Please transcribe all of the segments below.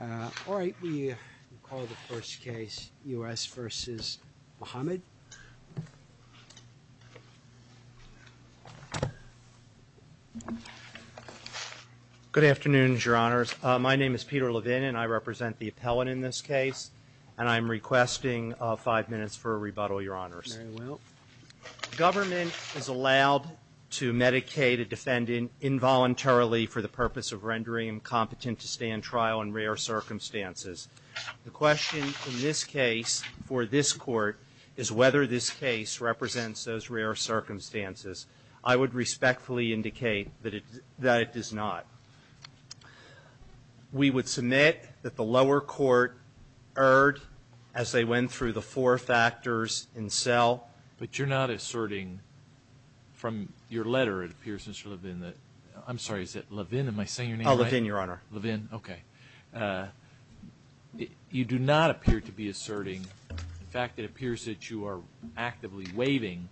All right, we'll call the first case U.S. v. Muhammad. Good afternoon, Your Honors. My name is Peter Levin, and I represent the appellant in this case, and I'm requesting five minutes for a rebuttal, Your Honors. Very well. Government is allowed to medicate a defendant involuntarily for the purpose of rendering him competent to stand trial in rare circumstances. The question in this case for this Court is whether this case represents those rare circumstances. I would respectfully indicate that it does not. We would submit that the lower court erred as they went through the four factors in cell. But you're not asserting from your letter, it appears, Mr. Levin, that – I'm sorry, is it Levin? Am I saying your name right? Oh, Levin, Your Honor. Levin? Okay. You do not appear to be asserting – in fact, it appears that you are actively waiving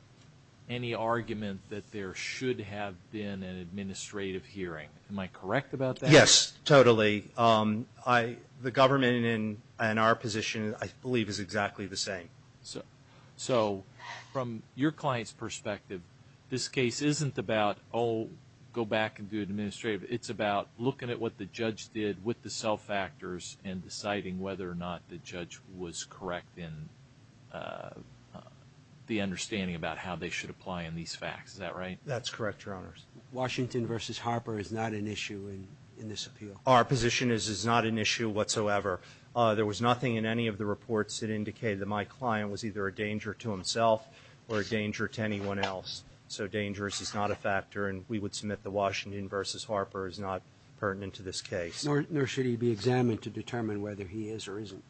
any argument that there should have been an administrative hearing. Am I correct about that? Yes, totally. The government in our position, I believe, is exactly the same. So from your client's perspective, this case isn't about, oh, go back and do administrative It's about looking at what the judge did with the cell factors and deciding whether or not the judge was correct in the understanding about how they should apply in these facts. Is that right? That's correct, Your Honors. Washington v. Harper is not an issue in this appeal. Our position is it's not an issue whatsoever. There was nothing in any of the reports that indicated that my client was either a danger to himself or a danger to anyone else. So dangerous is not a factor, and we would submit the Washington v. Harper is not pertinent to this case. Nor should he be examined to determine whether he is or isn't.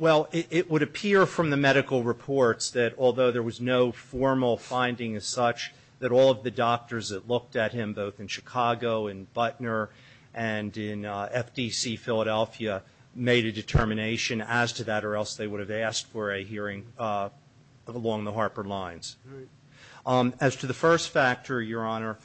Well, it would appear from the medical reports that although there was no formal finding as such, that all of the doctors that looked at him, both in Chicago and Butner and in FDC Philadelphia, made a determination as to that or else they would have asked for a hearing along the Harper lines. As to the first factor, Your Honor,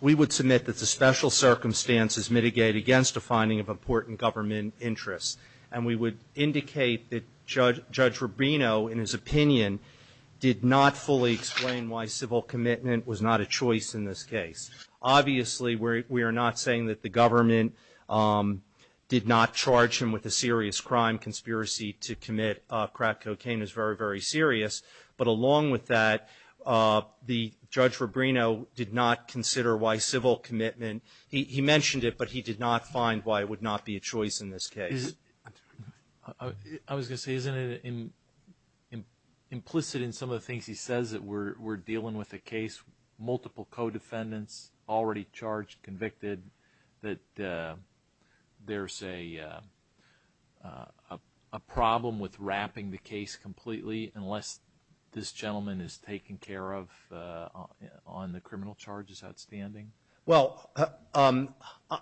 we would submit that the special circumstances mitigate against a finding of important government interest. And we would indicate that Judge Rubino, in his opinion, did not fully explain why civil commitment was not a choice in this case. Obviously, we are not saying that the government did not charge him with a serious crime. Conspiracy to commit crack cocaine is very, very serious. But along with that, the Judge Rubino did not consider why civil commitment, he mentioned it, but he did not find why it would not be a choice in this case. I was going to say, isn't it implicit in some of the things he says that we're dealing with a case, multiple co-defendants already charged, convicted, that there's a problem with wrapping the case completely unless this gentleman is taken care of on the criminal charges outstanding? Well,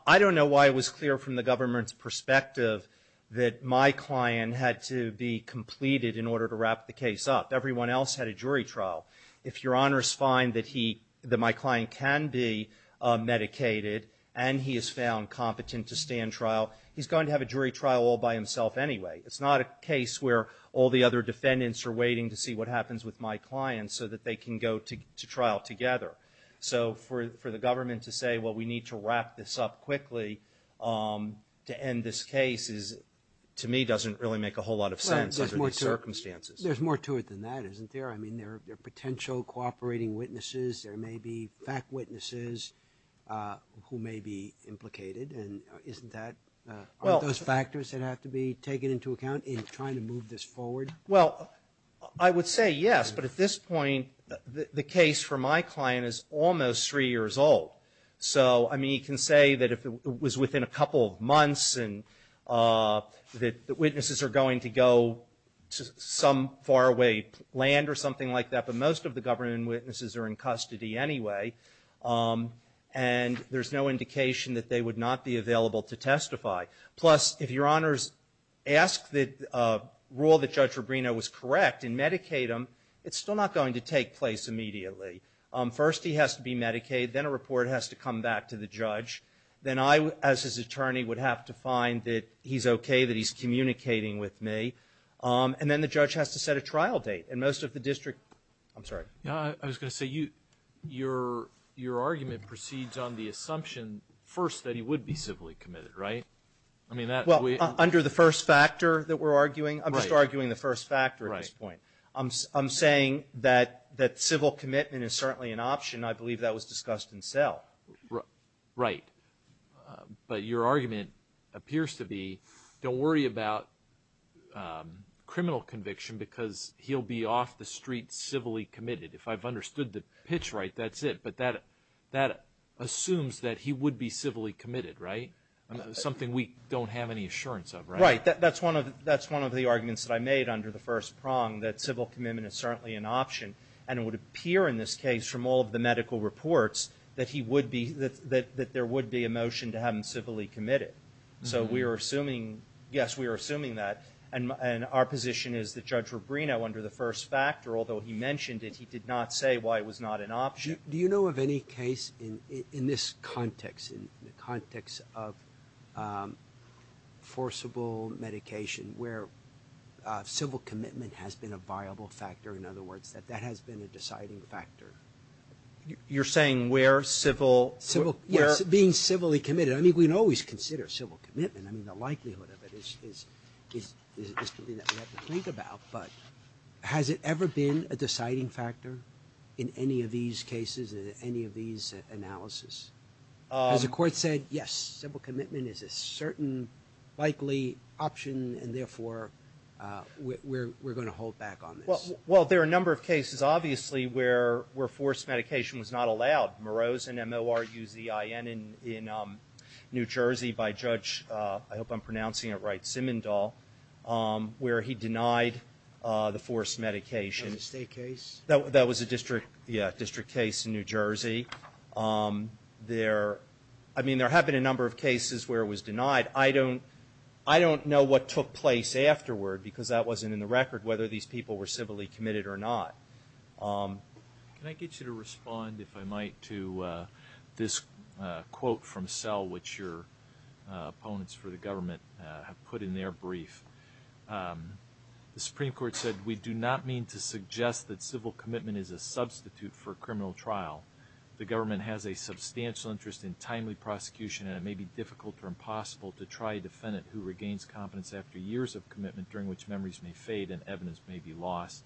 I don't know why it was clear from the government's perspective that my client had to be completed in order to wrap the case up. Everyone else had a jury trial. If Your Honor's find that he, that my client can be medicated and he is found competent to stand trial, he's going to have a jury trial all by himself anyway. It's not a case where all the other defendants are waiting to see what happens with my client so that they can go to trial together. So for the government to say, well, we need to wrap this up quickly to end this case is, to me, doesn't really make a whole lot of sense under these circumstances. There's more to it than that, isn't there? I mean, there are potential cooperating witnesses. There may be fact witnesses who may be implicated, and isn't that, aren't those factors that have to be taken into account in trying to move this forward? Well, I would say yes, but at this point, the case for my client is almost three years old. So, I mean, you can say that if it was within a couple of months and that the witnesses are going to go to some faraway land or something like that, but most of the government witnesses are in custody anyway, and there's no indication that they would not be available to testify. Plus, if Your Honors ask that, rule that Judge Rubino was correct and medicate him, it's still not going to take place immediately. First he has to be medicated, then a report has to come back to the judge. Then I, as his attorney, would have to find that he's okay, that he's communicating with me. And then the judge has to set a trial date. And most of the district, I'm sorry. Yeah, I was going to say, your argument proceeds on the assumption first that he would be civilly committed, right? Well, under the first factor that we're arguing, I'm just arguing the first factor at this point. I'm saying that civil commitment is certainly an option. I believe that was discussed in cell. Right. But your argument appears to be, don't worry about criminal conviction because he'll be off the street civilly committed. If I've understood the pitch right, that's it. But that assumes that he would be civilly committed, right? Something we don't have any assurance of, right? Right. That's one of the arguments that I made under the first prong, that civil commitment is certainly an option. And it would appear in this case from all of the medical reports that he would be, that there would be a motion to have him civilly committed. So we are assuming, yes, we are assuming that. And our position is that Judge Rubino, under the first factor, although he mentioned it, he did not say why it was not an option. Do you know of any case in this context, in the context of forcible medication where civil commitment has been a viable factor? In other words, that that has been a deciding factor? You're saying where civil? Yes. Being civilly committed. I mean, we can always consider civil commitment. I mean, the likelihood of it is something that we have to think about. But has it ever been a deciding factor in any of these cases, in any of these analysis? Has the court said, yes, civil commitment is a certain likely option and therefore we're going to hold back on this? Well, there are a number of cases, obviously, where forced medication was not allowed. Morosen, M-O-R-U-Z-I-N, in New Jersey by Judge, I hope I'm pronouncing it right, Simendahl, where he denied the forced medication. The State case? That was a district, yeah, district case in New Jersey. There, I mean, there have been a number of cases where it was denied. I don't, I don't know what took place afterward because that wasn't in the record, whether these people were civilly committed or not. Can I get you to respond, if I might, to this quote from Sell, which your opponents for their brief. The Supreme Court said, we do not mean to suggest that civil commitment is a substitute for a criminal trial. The government has a substantial interest in timely prosecution and it may be difficult or impossible to try a defendant who regains competence after years of commitment during which memories may fade and evidence may be lost.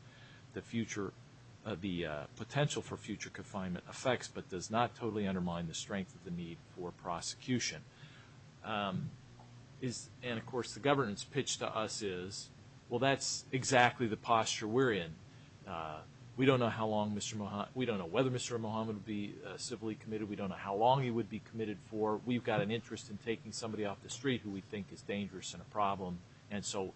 The future, the potential for future confinement affects but does not totally undermine the strength of the need for prosecution. And, of course, the government's pitch to us is, well, that's exactly the posture we're in. We don't know how long Mr. Mohamed, we don't know whether Mr. Mohamed would be civilly committed. We don't know how long he would be committed for. We've got an interest in taking somebody off the street who we think is dangerous and a problem. And so,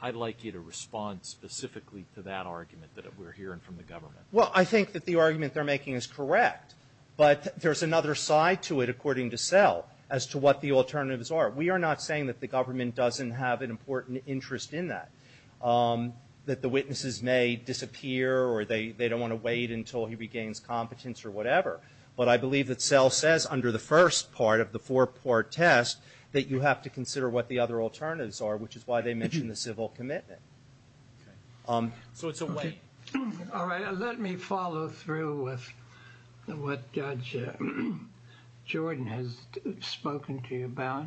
I'd like you to respond specifically to that argument that we're hearing from the government. Well, I think that the argument they're making is correct. But there's another side to it, according to Sell, as to what the alternatives are. We are not saying that the government doesn't have an important interest in that, that the witnesses may disappear or they don't want to wait until he regains competence or whatever. But I believe that Sell says, under the first part of the four-part test, that you have to consider what the other alternatives are, which is why they mention the civil commitment. So it's a wait. All right, let me follow through with what Judge Jordan has spoken to you about.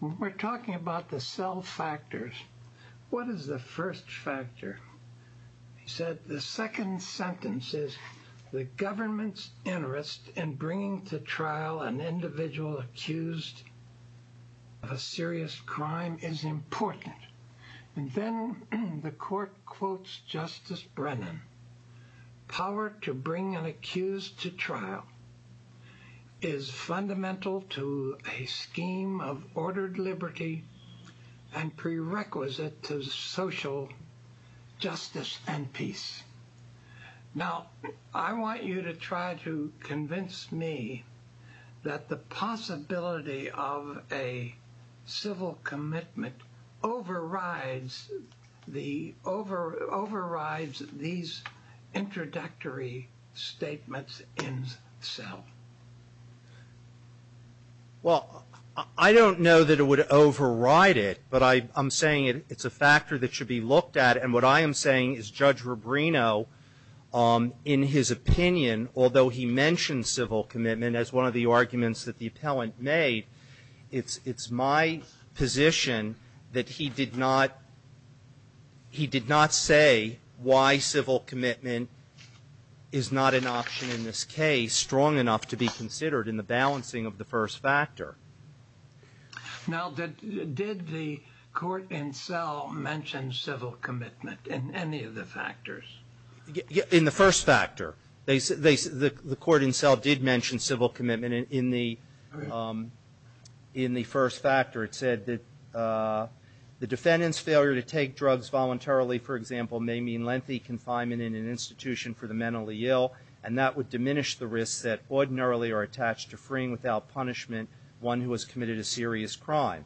We're talking about the Sell factors. What is the first factor? He said, the second sentence is, the government's interest in bringing to trial an individual accused of a serious crime is important. And then the court quotes Justice Brennan, power to bring an accused to trial is fundamental to a scheme of ordered liberty and prerequisite to social justice and peace. Now, I want you to try to convince me that the possibility of a civil commitment overrides these introductory statements in Sell. Well, I don't know that it would override it. But I'm saying it's a factor that should be looked at. And what I am saying is, Judge Rubino, in his opinion, although he mentioned civil commitment as one of the arguments that the appellant made, it's my position that he did not say why civil commitment is not an option in this case strong enough to be considered in the balancing of the first factor. Now, did the court in Sell mention civil commitment in any of the factors? In the first factor. The court in Sell did mention civil commitment in the first factor. It said that the defendant's failure to take drugs voluntarily, for example, may mean lengthy confinement in an institution for the mentally ill. And that would diminish the risks that ordinarily are attached to freeing without punishment one who has committed a serious crime.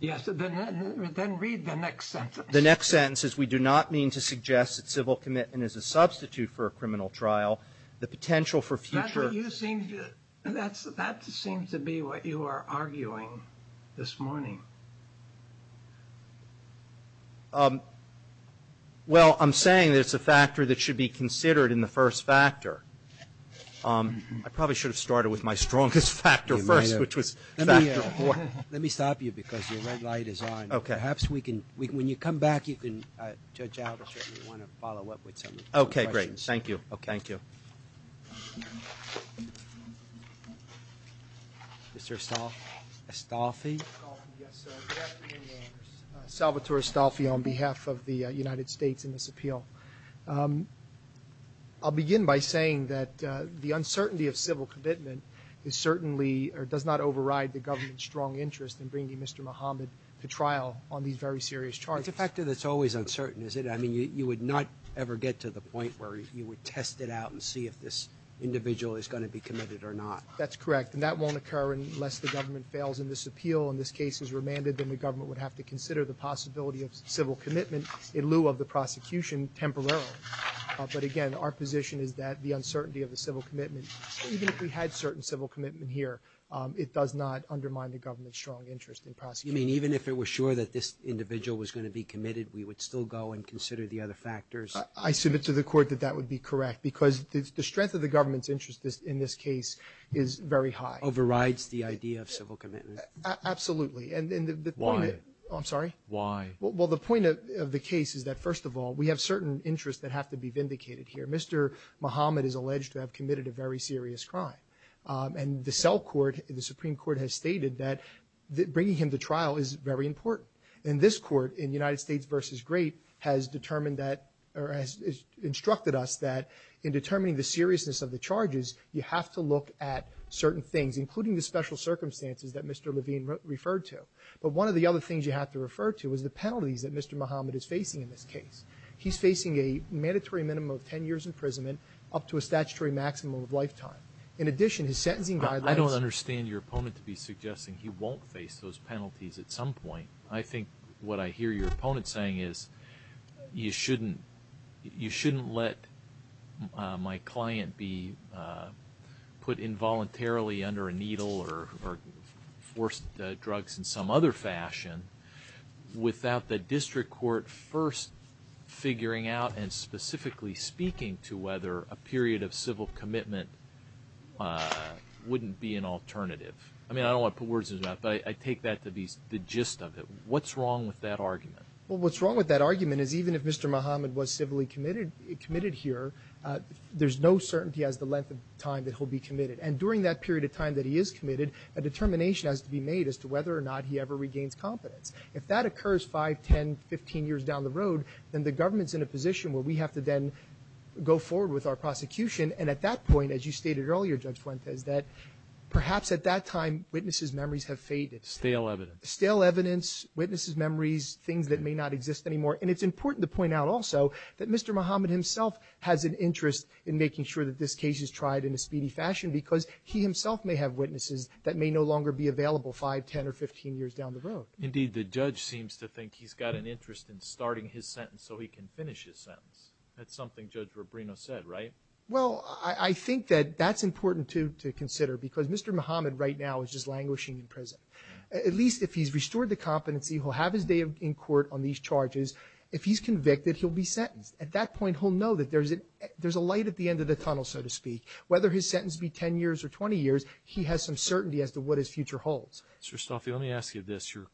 Yes. Then read the next sentence. The next sentence says, we do not mean to suggest that civil commitment is a substitute for a criminal trial. The potential for future... That seems to be what you are arguing this morning. Well, I'm saying that it's a factor that should be considered in the first factor. I probably should have started with my strongest factor first, which was factor four. Let me stop you because your red light is on. Okay. Perhaps we can, when you come back, you can, Judge Albert, if you want to follow up with some of the questions. Okay, great. Thank you. Okay. Thank you. Mr. Estolfi? Estolfi, yes, sir. Good afternoon, Your Honors. Salvatore Estolfi on behalf of the United States in this appeal. I'll begin by saying that the uncertainty of civil commitment is certainly, or does not override the government's strong interest in bringing Mr. Mohammed to trial on these very serious charges. It's a factor that's always uncertain, is it? I mean, you would not ever get to the point where you would test it out and see if this individual is going to be committed or not. That's correct. And that won't occur unless the government fails in this appeal. In this case, it's remanded that the government would have to consider the possibility of But, again, our position is that the uncertainty of the civil commitment, even if we had certain civil commitment here, it does not undermine the government's strong interest in prosecuting. You mean even if it were sure that this individual was going to be committed, we would still go and consider the other factors? I submit to the Court that that would be correct, because the strength of the government's interest in this case is very high. Overrides the idea of civil commitment? Absolutely. And the point of the case is that, first of all, we have certain interests that have to be vindicated here. Mr. Muhammad is alleged to have committed a very serious crime. And the cell court, the Supreme Court, has stated that bringing him to trial is very important. And this Court, in United States v. Great, has determined that or has instructed us that in determining the seriousness of the charges, you have to look at certain things, including the special circumstances that Mr. Levine referred to. But one of the other things you have to refer to is the penalties that Mr. Muhammad is facing in this case. He's facing a mandatory minimum of 10 years imprisonment up to a statutory maximum of lifetime. In addition, his sentencing guidelines— I don't understand your opponent to be suggesting he won't face those penalties at some point. I think what I hear your opponent saying is, you shouldn't let my client be put involuntarily under a needle or forced drugs in some other fashion without the district court first figuring out and specifically speaking to whether a period of civil commitment wouldn't be an alternative. I mean, I don't want to put words in his mouth, but I take that to be the gist of it. What's wrong with that argument? Well, what's wrong with that argument is even if Mr. Muhammad was civilly committed here, there's no certainty as the length of time that he'll be committed. And during that period of time that he is committed, a determination has to be made as to whether or not he ever regains competence. If that occurs 5, 10, 15 years down the road, then the government's in a position where we have to then go forward with our prosecution. And at that point, as you stated earlier, Judge Fuentes, that perhaps at that time witnesses' memories have faded. Stale evidence. Stale evidence, witnesses' memories, things that may not exist anymore. And it's important to point out also that Mr. Muhammad himself has an interest in making sure that this case is tried in a speedy fashion because he himself may have witnesses that may no longer be available 5, 10, or 15 years down the road. Indeed, the judge seems to think he's got an interest in starting his sentence so he can finish his sentence. That's something Judge Robrino said, right? Well, I think that that's important to consider because Mr. Muhammad right now is just languishing in prison. At least if he's restored the competency, he'll have his day in court on these charges. If he's convicted, he'll be sentenced. At that point, he'll know that there's a light at the end of the tunnel, so to speak. Whether his sentence be 10 years or 20 years, he has some certainty as to what his future holds. Mr. Stolfi, let me ask you this. Your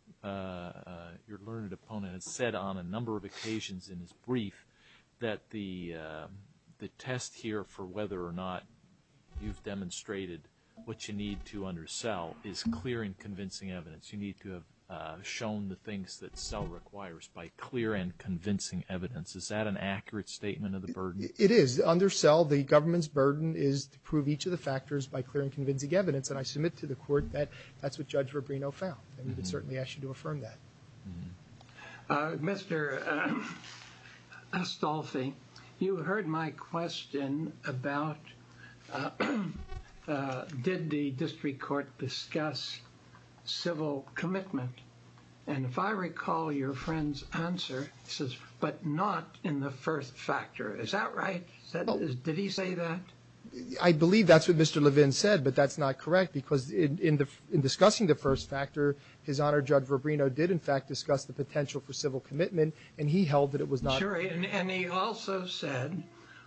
learned opponent has said on a number of occasions in his brief that the test here for whether or not you've demonstrated what you need to undersell is clear and convincing evidence. You need to have shown the things that sell requires by clear and convincing evidence. Is that an accurate statement of the burden? It is. Undersell, the government's burden is to prove each of the factors by clear and convincing evidence. And I submit to the court that that's what Judge Rubino found. And we would certainly ask you to affirm that. Mr. Stolfi, you heard my question about did the district court discuss civil commitment? And if I recall your friend's answer, he says, but not in the first factor. Is that right? Did he say that? I believe that's what Mr. Levin said. But that's not correct. Because in discussing the first factor, his Honor, Judge Rubino did, in fact, discuss the potential for civil commitment. And he held that it was not. Sure. And he also said,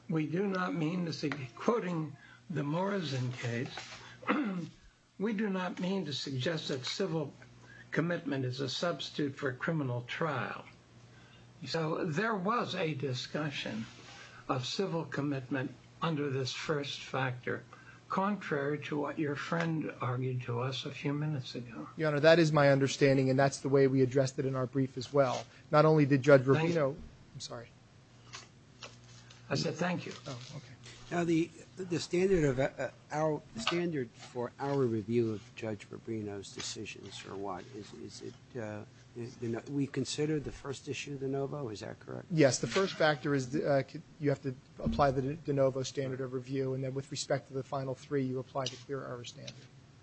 we do not mean to say, quoting the Morrison case, we do not mean to suggest that civil commitment is a substitute for a criminal trial. So there was a discussion of civil commitment under this first factor, contrary to what your friend argued to us a few minutes ago. Your Honor, that is my understanding. And that's the way we addressed it in our brief as well. Not only did Judge Rubino. I'm sorry. I said thank you. Oh, OK. Now, the standard of our standard for our review of Judge Rubino's decisions or what is it? We consider the first issue the de novo. Is that correct? Yes. The first factor is you have to apply the de novo standard of review. And then with respect to the final three, you apply the clear error standard.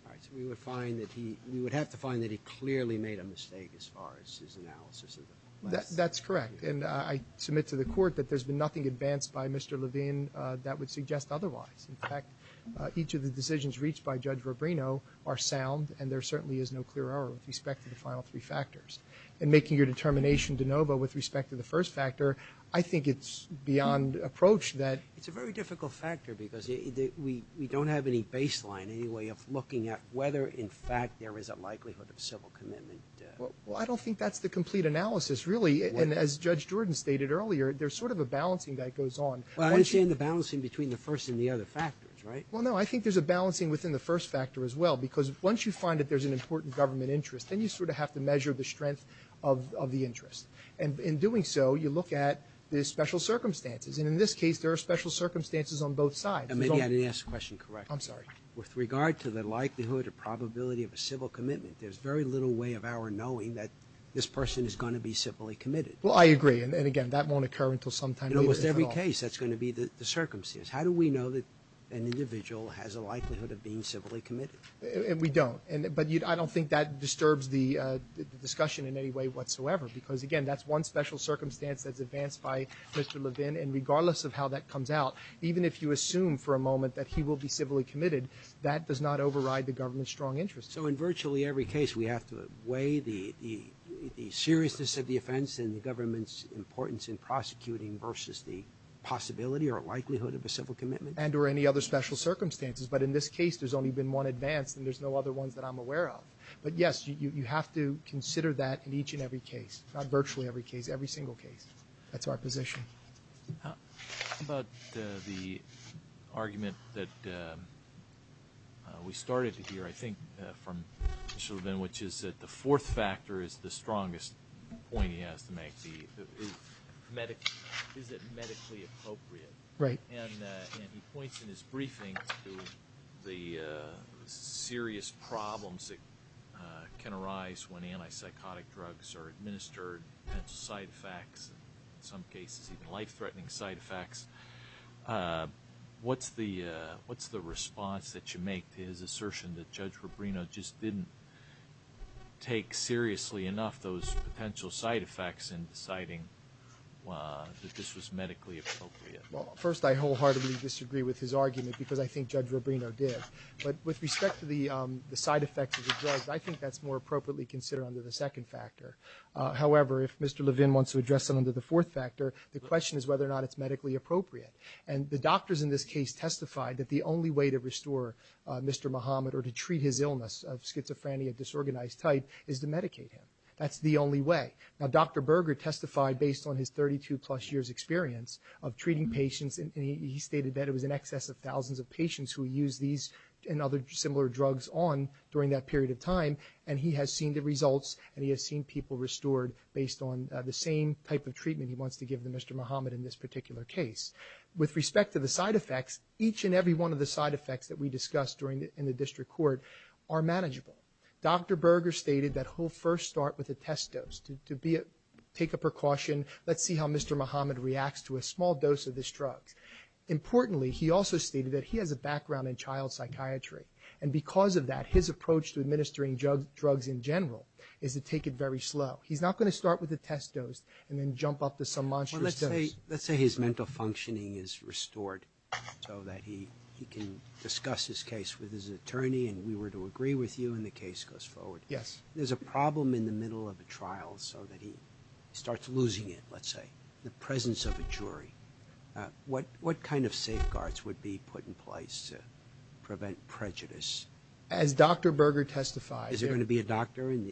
All right. So we would find that he would have to find that he clearly made a mistake as far as his analysis of the last three. That's correct. And I submit to the Court that there's been nothing advanced by Mr. Levin that would suggest otherwise. In fact, each of the decisions reached by Judge Rubino are sound. And there certainly is no clear error with respect to the final three factors. And making your determination de novo with respect to the first factor, I think it's beyond approach that. It's a very difficult factor because we don't have any baseline, any way of looking at whether, in fact, there is a likelihood of civil commitment. Well, I don't think that's the complete analysis, really. And as Judge Jordan stated earlier, there's sort of a balancing that goes on. Well, I understand the balancing between the first and the other factors, right? Well, no, I think there's a balancing within the first factor as well. Because once you find that there's an important government interest, then you sort of have to measure the strength of the interest. And in doing so, you look at the special circumstances. And in this case, there are special circumstances on both sides. And maybe I didn't ask the question correctly. I'm sorry. With regard to the likelihood or probability of a civil commitment, there's very little way of our knowing that this person is going to be civilly committed. Well, I agree. And again, that won't occur until sometime later. In almost every case, that's going to be the circumstances. How do we know that an individual has a likelihood of being civilly committed? We don't. But I don't think that disturbs the discussion in any way whatsoever. Because again, that's one special circumstance that's advanced by Mr. Levin. And regardless of how that comes out, even if you assume for a moment that he will be civilly committed, that does not override the government's strong interest. So in virtually every case, we have to weigh the seriousness of the offense and the government's importance in prosecuting versus the possibility or likelihood of a civil commitment? And or any other special circumstances. But in this case, there's only been one advanced. And there's no other ones that I'm aware of. But yes, you have to consider that in each and every case. Not virtually every case. Every single case. That's our position. How about the argument that we started to hear, I think, from Mr. Levin, which is that the fourth factor is the strongest point he has to make. Is it medically appropriate? Right. And he points in his briefing to the serious problems that can arise when anti-psychotic drugs are administered. Potential side effects. In some cases, even life-threatening side effects. What's the response that you make to his assertion that Judge Rubino just didn't take seriously enough those potential side effects in deciding that this was medically appropriate? First, I wholeheartedly disagree with his argument. Because I think Judge Rubino did. But with respect to the side effects of the drugs, I think that's more appropriately considered under the second factor. However, if Mr. Levin wants to address it under the fourth factor, the question is whether or not it's medically appropriate. And the doctors in this case testified that the only way to restore Mr. Muhammad or to treat his illness of schizophrenia disorganized type is to medicate him. That's the only way. Now, Dr. Berger testified based on his 32-plus years experience of treating patients. And he stated that it was in excess of thousands of patients who used these and other similar drugs on during that period of time. And he has seen the results. And he has seen people restored based on the same type of treatment he wants to give to Mr. Muhammad in this particular case. With respect to the side effects, each and every one of the side effects that we discussed in the district court are manageable. Dr. Berger stated that he'll first start with a test dose to take a precaution. Let's see how Mr. Muhammad reacts to a small dose of this drug. Importantly, he also stated that he has a background in child psychiatry. And because of that, his approach to administering drugs in general is to take it very slow. He's not going to start with a test dose and then jump up to some monstrous dose. Well, let's say his mental functioning is restored so that he can discuss his case with his attorney and we were to agree with you and the case goes forward. Yes. There's a problem in the middle of a trial so that he starts losing it, let's say, the presence of a jury. What kind of safeguards would be put in place to prevent prejudice? As Dr. Berger testified- Is there going to be a doctor in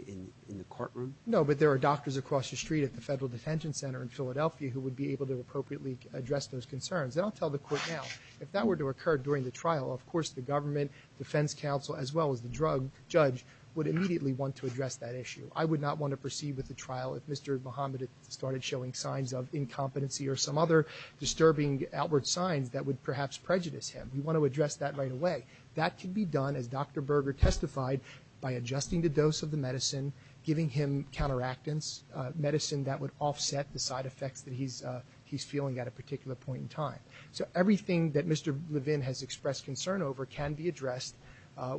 the courtroom? No, but there are doctors across the street at the Federal Detention Center in Philadelphia who would be able to appropriately address those concerns. And I'll tell the court now, if that were to occur during the trial, of course, the government, defense counsel, as well as the drug judge would immediately want to address that issue. I would not want to proceed with the trial if Mr. Mohammed started showing signs of incompetency or some other disturbing outward signs that would perhaps prejudice him. We want to address that right away. That can be done, as Dr. Berger testified, by adjusting the dose of the medicine, giving him counteractants, medicine that would offset the side effects that he's feeling at a particular point in time. So everything that Mr. Levin has expressed concern over can be addressed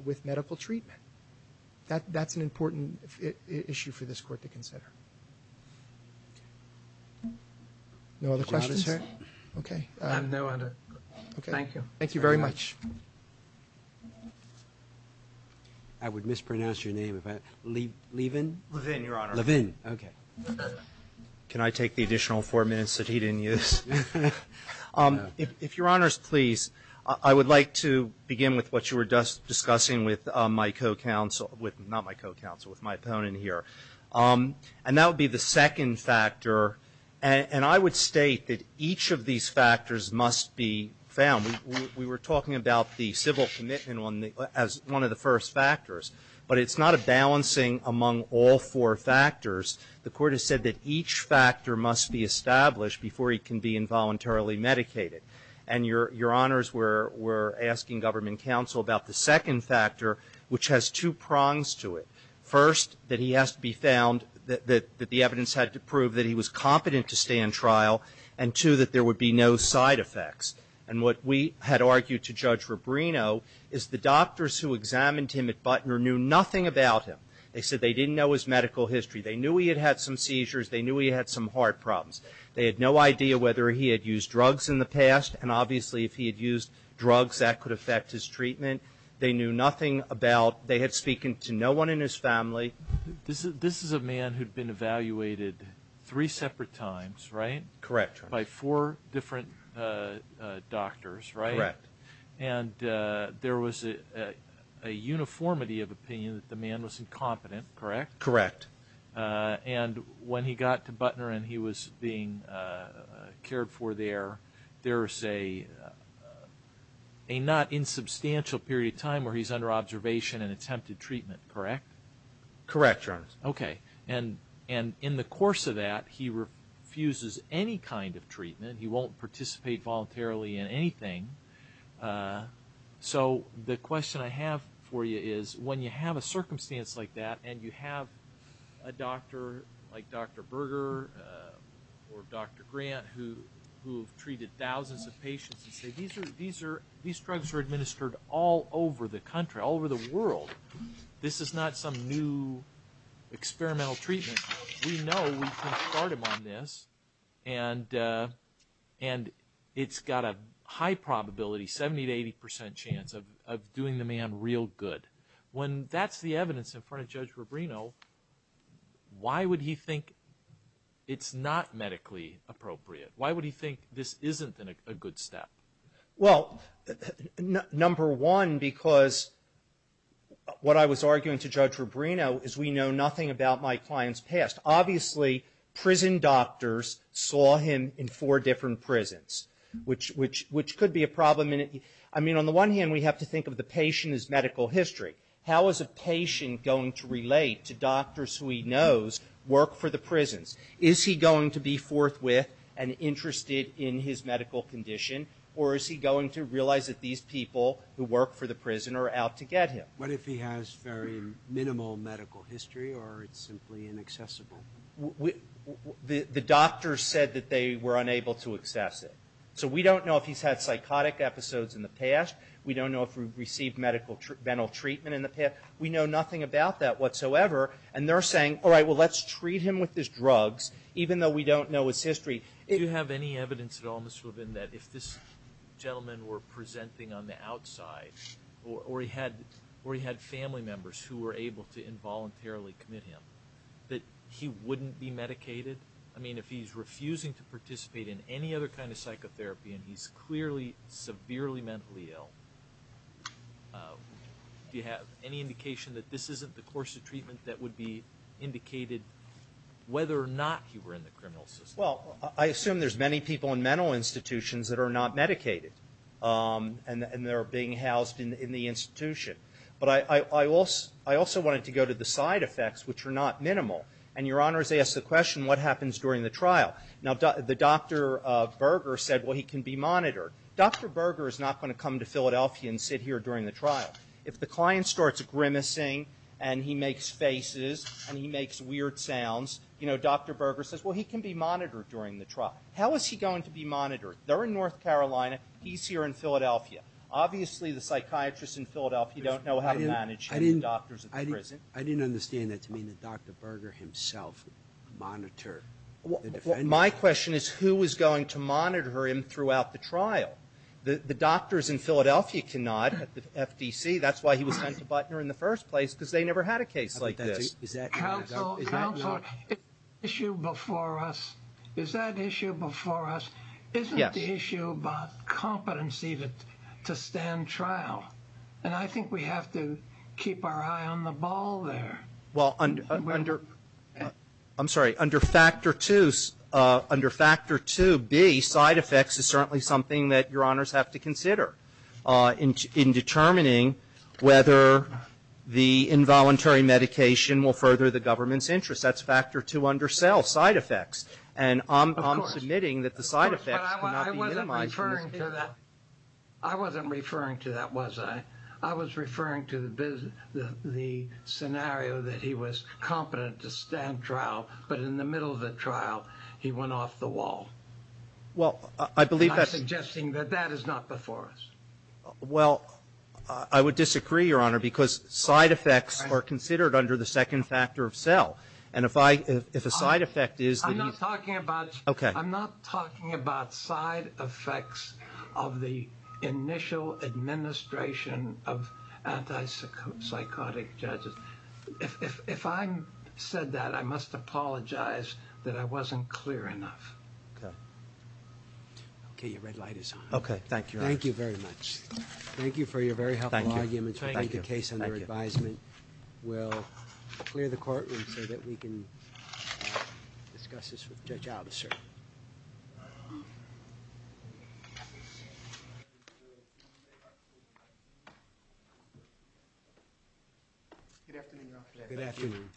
with medical treatment. That's an important issue for this Court to consider. No other questions, sir? Okay. I have no other. Okay. Thank you. Thank you very much. I would mispronounce your name. Levin? Levin, Your Honor. Levin, okay. Can I take the additional four minutes that he didn't use? If Your Honor's please, I would like to begin with what you were just discussing with my co-counsel, not my co-counsel, with my opponent here. And that would be the second factor. And I would state that each of these factors must be found. We were talking about the civil commitment as one of the first factors. But it's not a balancing among all four factors. The Court has said that each factor must be established before he can be involuntarily medicated. And Your Honors were asking government counsel about the second factor, which has two prongs to it. First, that he has to be found, that the evidence had to prove that he was competent to stay in trial. And two, that there would be no side effects. And what we had argued to Judge Rubrino is the doctors who examined him at Butner knew nothing about him. They said they didn't know his medical history. They knew he had had some seizures. They knew he had some heart problems. They had no idea whether he had used drugs in the past. And obviously, if he had used drugs, that could affect his treatment. They knew nothing about, they had spoken to no one in his family. This is a man who had been evaluated three separate times, right? Correct. By four different doctors, right? Correct. And there was a uniformity of opinion that the man was incompetent, correct? Correct. And when he got to Butner and he was being cared for there, there's a not insubstantial period of time where he's under observation and attempted treatment, correct? Correct, Your Honor. Okay. And in the course of that, he refuses any kind of treatment. He won't participate voluntarily in anything. So the question I have for you is, when you have a circumstance like that and you have a doctor like Dr. Berger or Dr. Grant who have treated thousands of patients and say, these drugs are administered all over the country, all over the world. This is not some new experimental treatment. We know we can start him on this. And it's got a high probability, 70% to 80% chance of doing the man real good. When that's the evidence in front of Judge Rubino, why would he think it's not medically appropriate? Why would he think this isn't a good step? Well, number one, because what I was arguing to Judge Rubino is we know nothing about my client's past. Obviously, prison doctors saw him in four different prisons, which could be a problem. I mean, on the one hand, we have to think of the patient as medical history. How is a patient going to relate to doctors who he knows work for the prisons? Is he going to be forthwith and interested in his medical condition? Or is he going to realize that these people who work for the prison are out to get him? What if he has very minimal medical history or it's simply inaccessible? The doctors said that they were unable to access it. So we don't know if he's had psychotic episodes in the past. We don't know if we've received medical, mental treatment in the past. We know nothing about that whatsoever. And they're saying, all right, well, let's treat him with these drugs, even though we don't know his history. Do you have any evidence at all, Mr. Rubin, that if this gentleman were presenting on the outside, or he had family members who were able to involuntarily commit him, that he wouldn't be medicated? I mean, if he's refusing to participate in any other kind of psychotherapy and he's clearly severely mentally ill, do you have any indication that this isn't the course of treatment that would be indicated whether or not he were in the criminal system? Well, I assume there's many people in mental institutions that are not medicated and they're being housed in the institution. But I also wanted to go to the side effects, which are not minimal. And Your Honor has asked the question, what happens during the trial? Now, the Dr. Berger said, well, he can be monitored. Dr. Berger is not going to come to Philadelphia and sit here during the trial. If the client starts grimacing and he makes faces and he makes weird sounds, Dr. Berger says, well, he can be monitored during the trial. How is he going to be monitored? They're in North Carolina. He's here in Philadelphia. Obviously, the psychiatrists in Philadelphia don't know how to manage him, the doctors at the prison. I didn't understand that to mean that Dr. Berger himself monitored the defendants. My question is, who is going to monitor him throughout the trial? The doctors in Philadelphia cannot at the FDC. That's why he was sent to Butner in the first place, because they never had a case like this. Counsel, counsel, the issue before us, is that issue before us? Isn't the issue about competency to stand trial? And I think we have to keep our eye on the ball there. Well, under, I'm sorry, under Factor 2, under Factor 2B, side effects is certainly something that your honors have to consider in determining whether the involuntary medication will further the government's interest. That's Factor 2 under cell, side effects. And I'm submitting that the side effects could not be minimized. I wasn't referring to that, was I? I was referring to the scenario that he was competent to stand trial, but in the middle of the trial, he went off the wall. Well, I believe that's... I'm suggesting that that is not before us. Well, I would disagree, your honor, because side effects are considered under the second factor of cell. And if a side effect is... I'm not talking about... Okay. ...of the initial administration of anti-psychotic judges. If I said that, I must apologize that I wasn't clear enough. Okay. Okay, your red light is on. Okay, thank you, your honor. Thank you very much. Thank you for your very helpful argument. Thank you. Thank you. Judge Alvis, sir. Good afternoon, your honor. Good afternoon.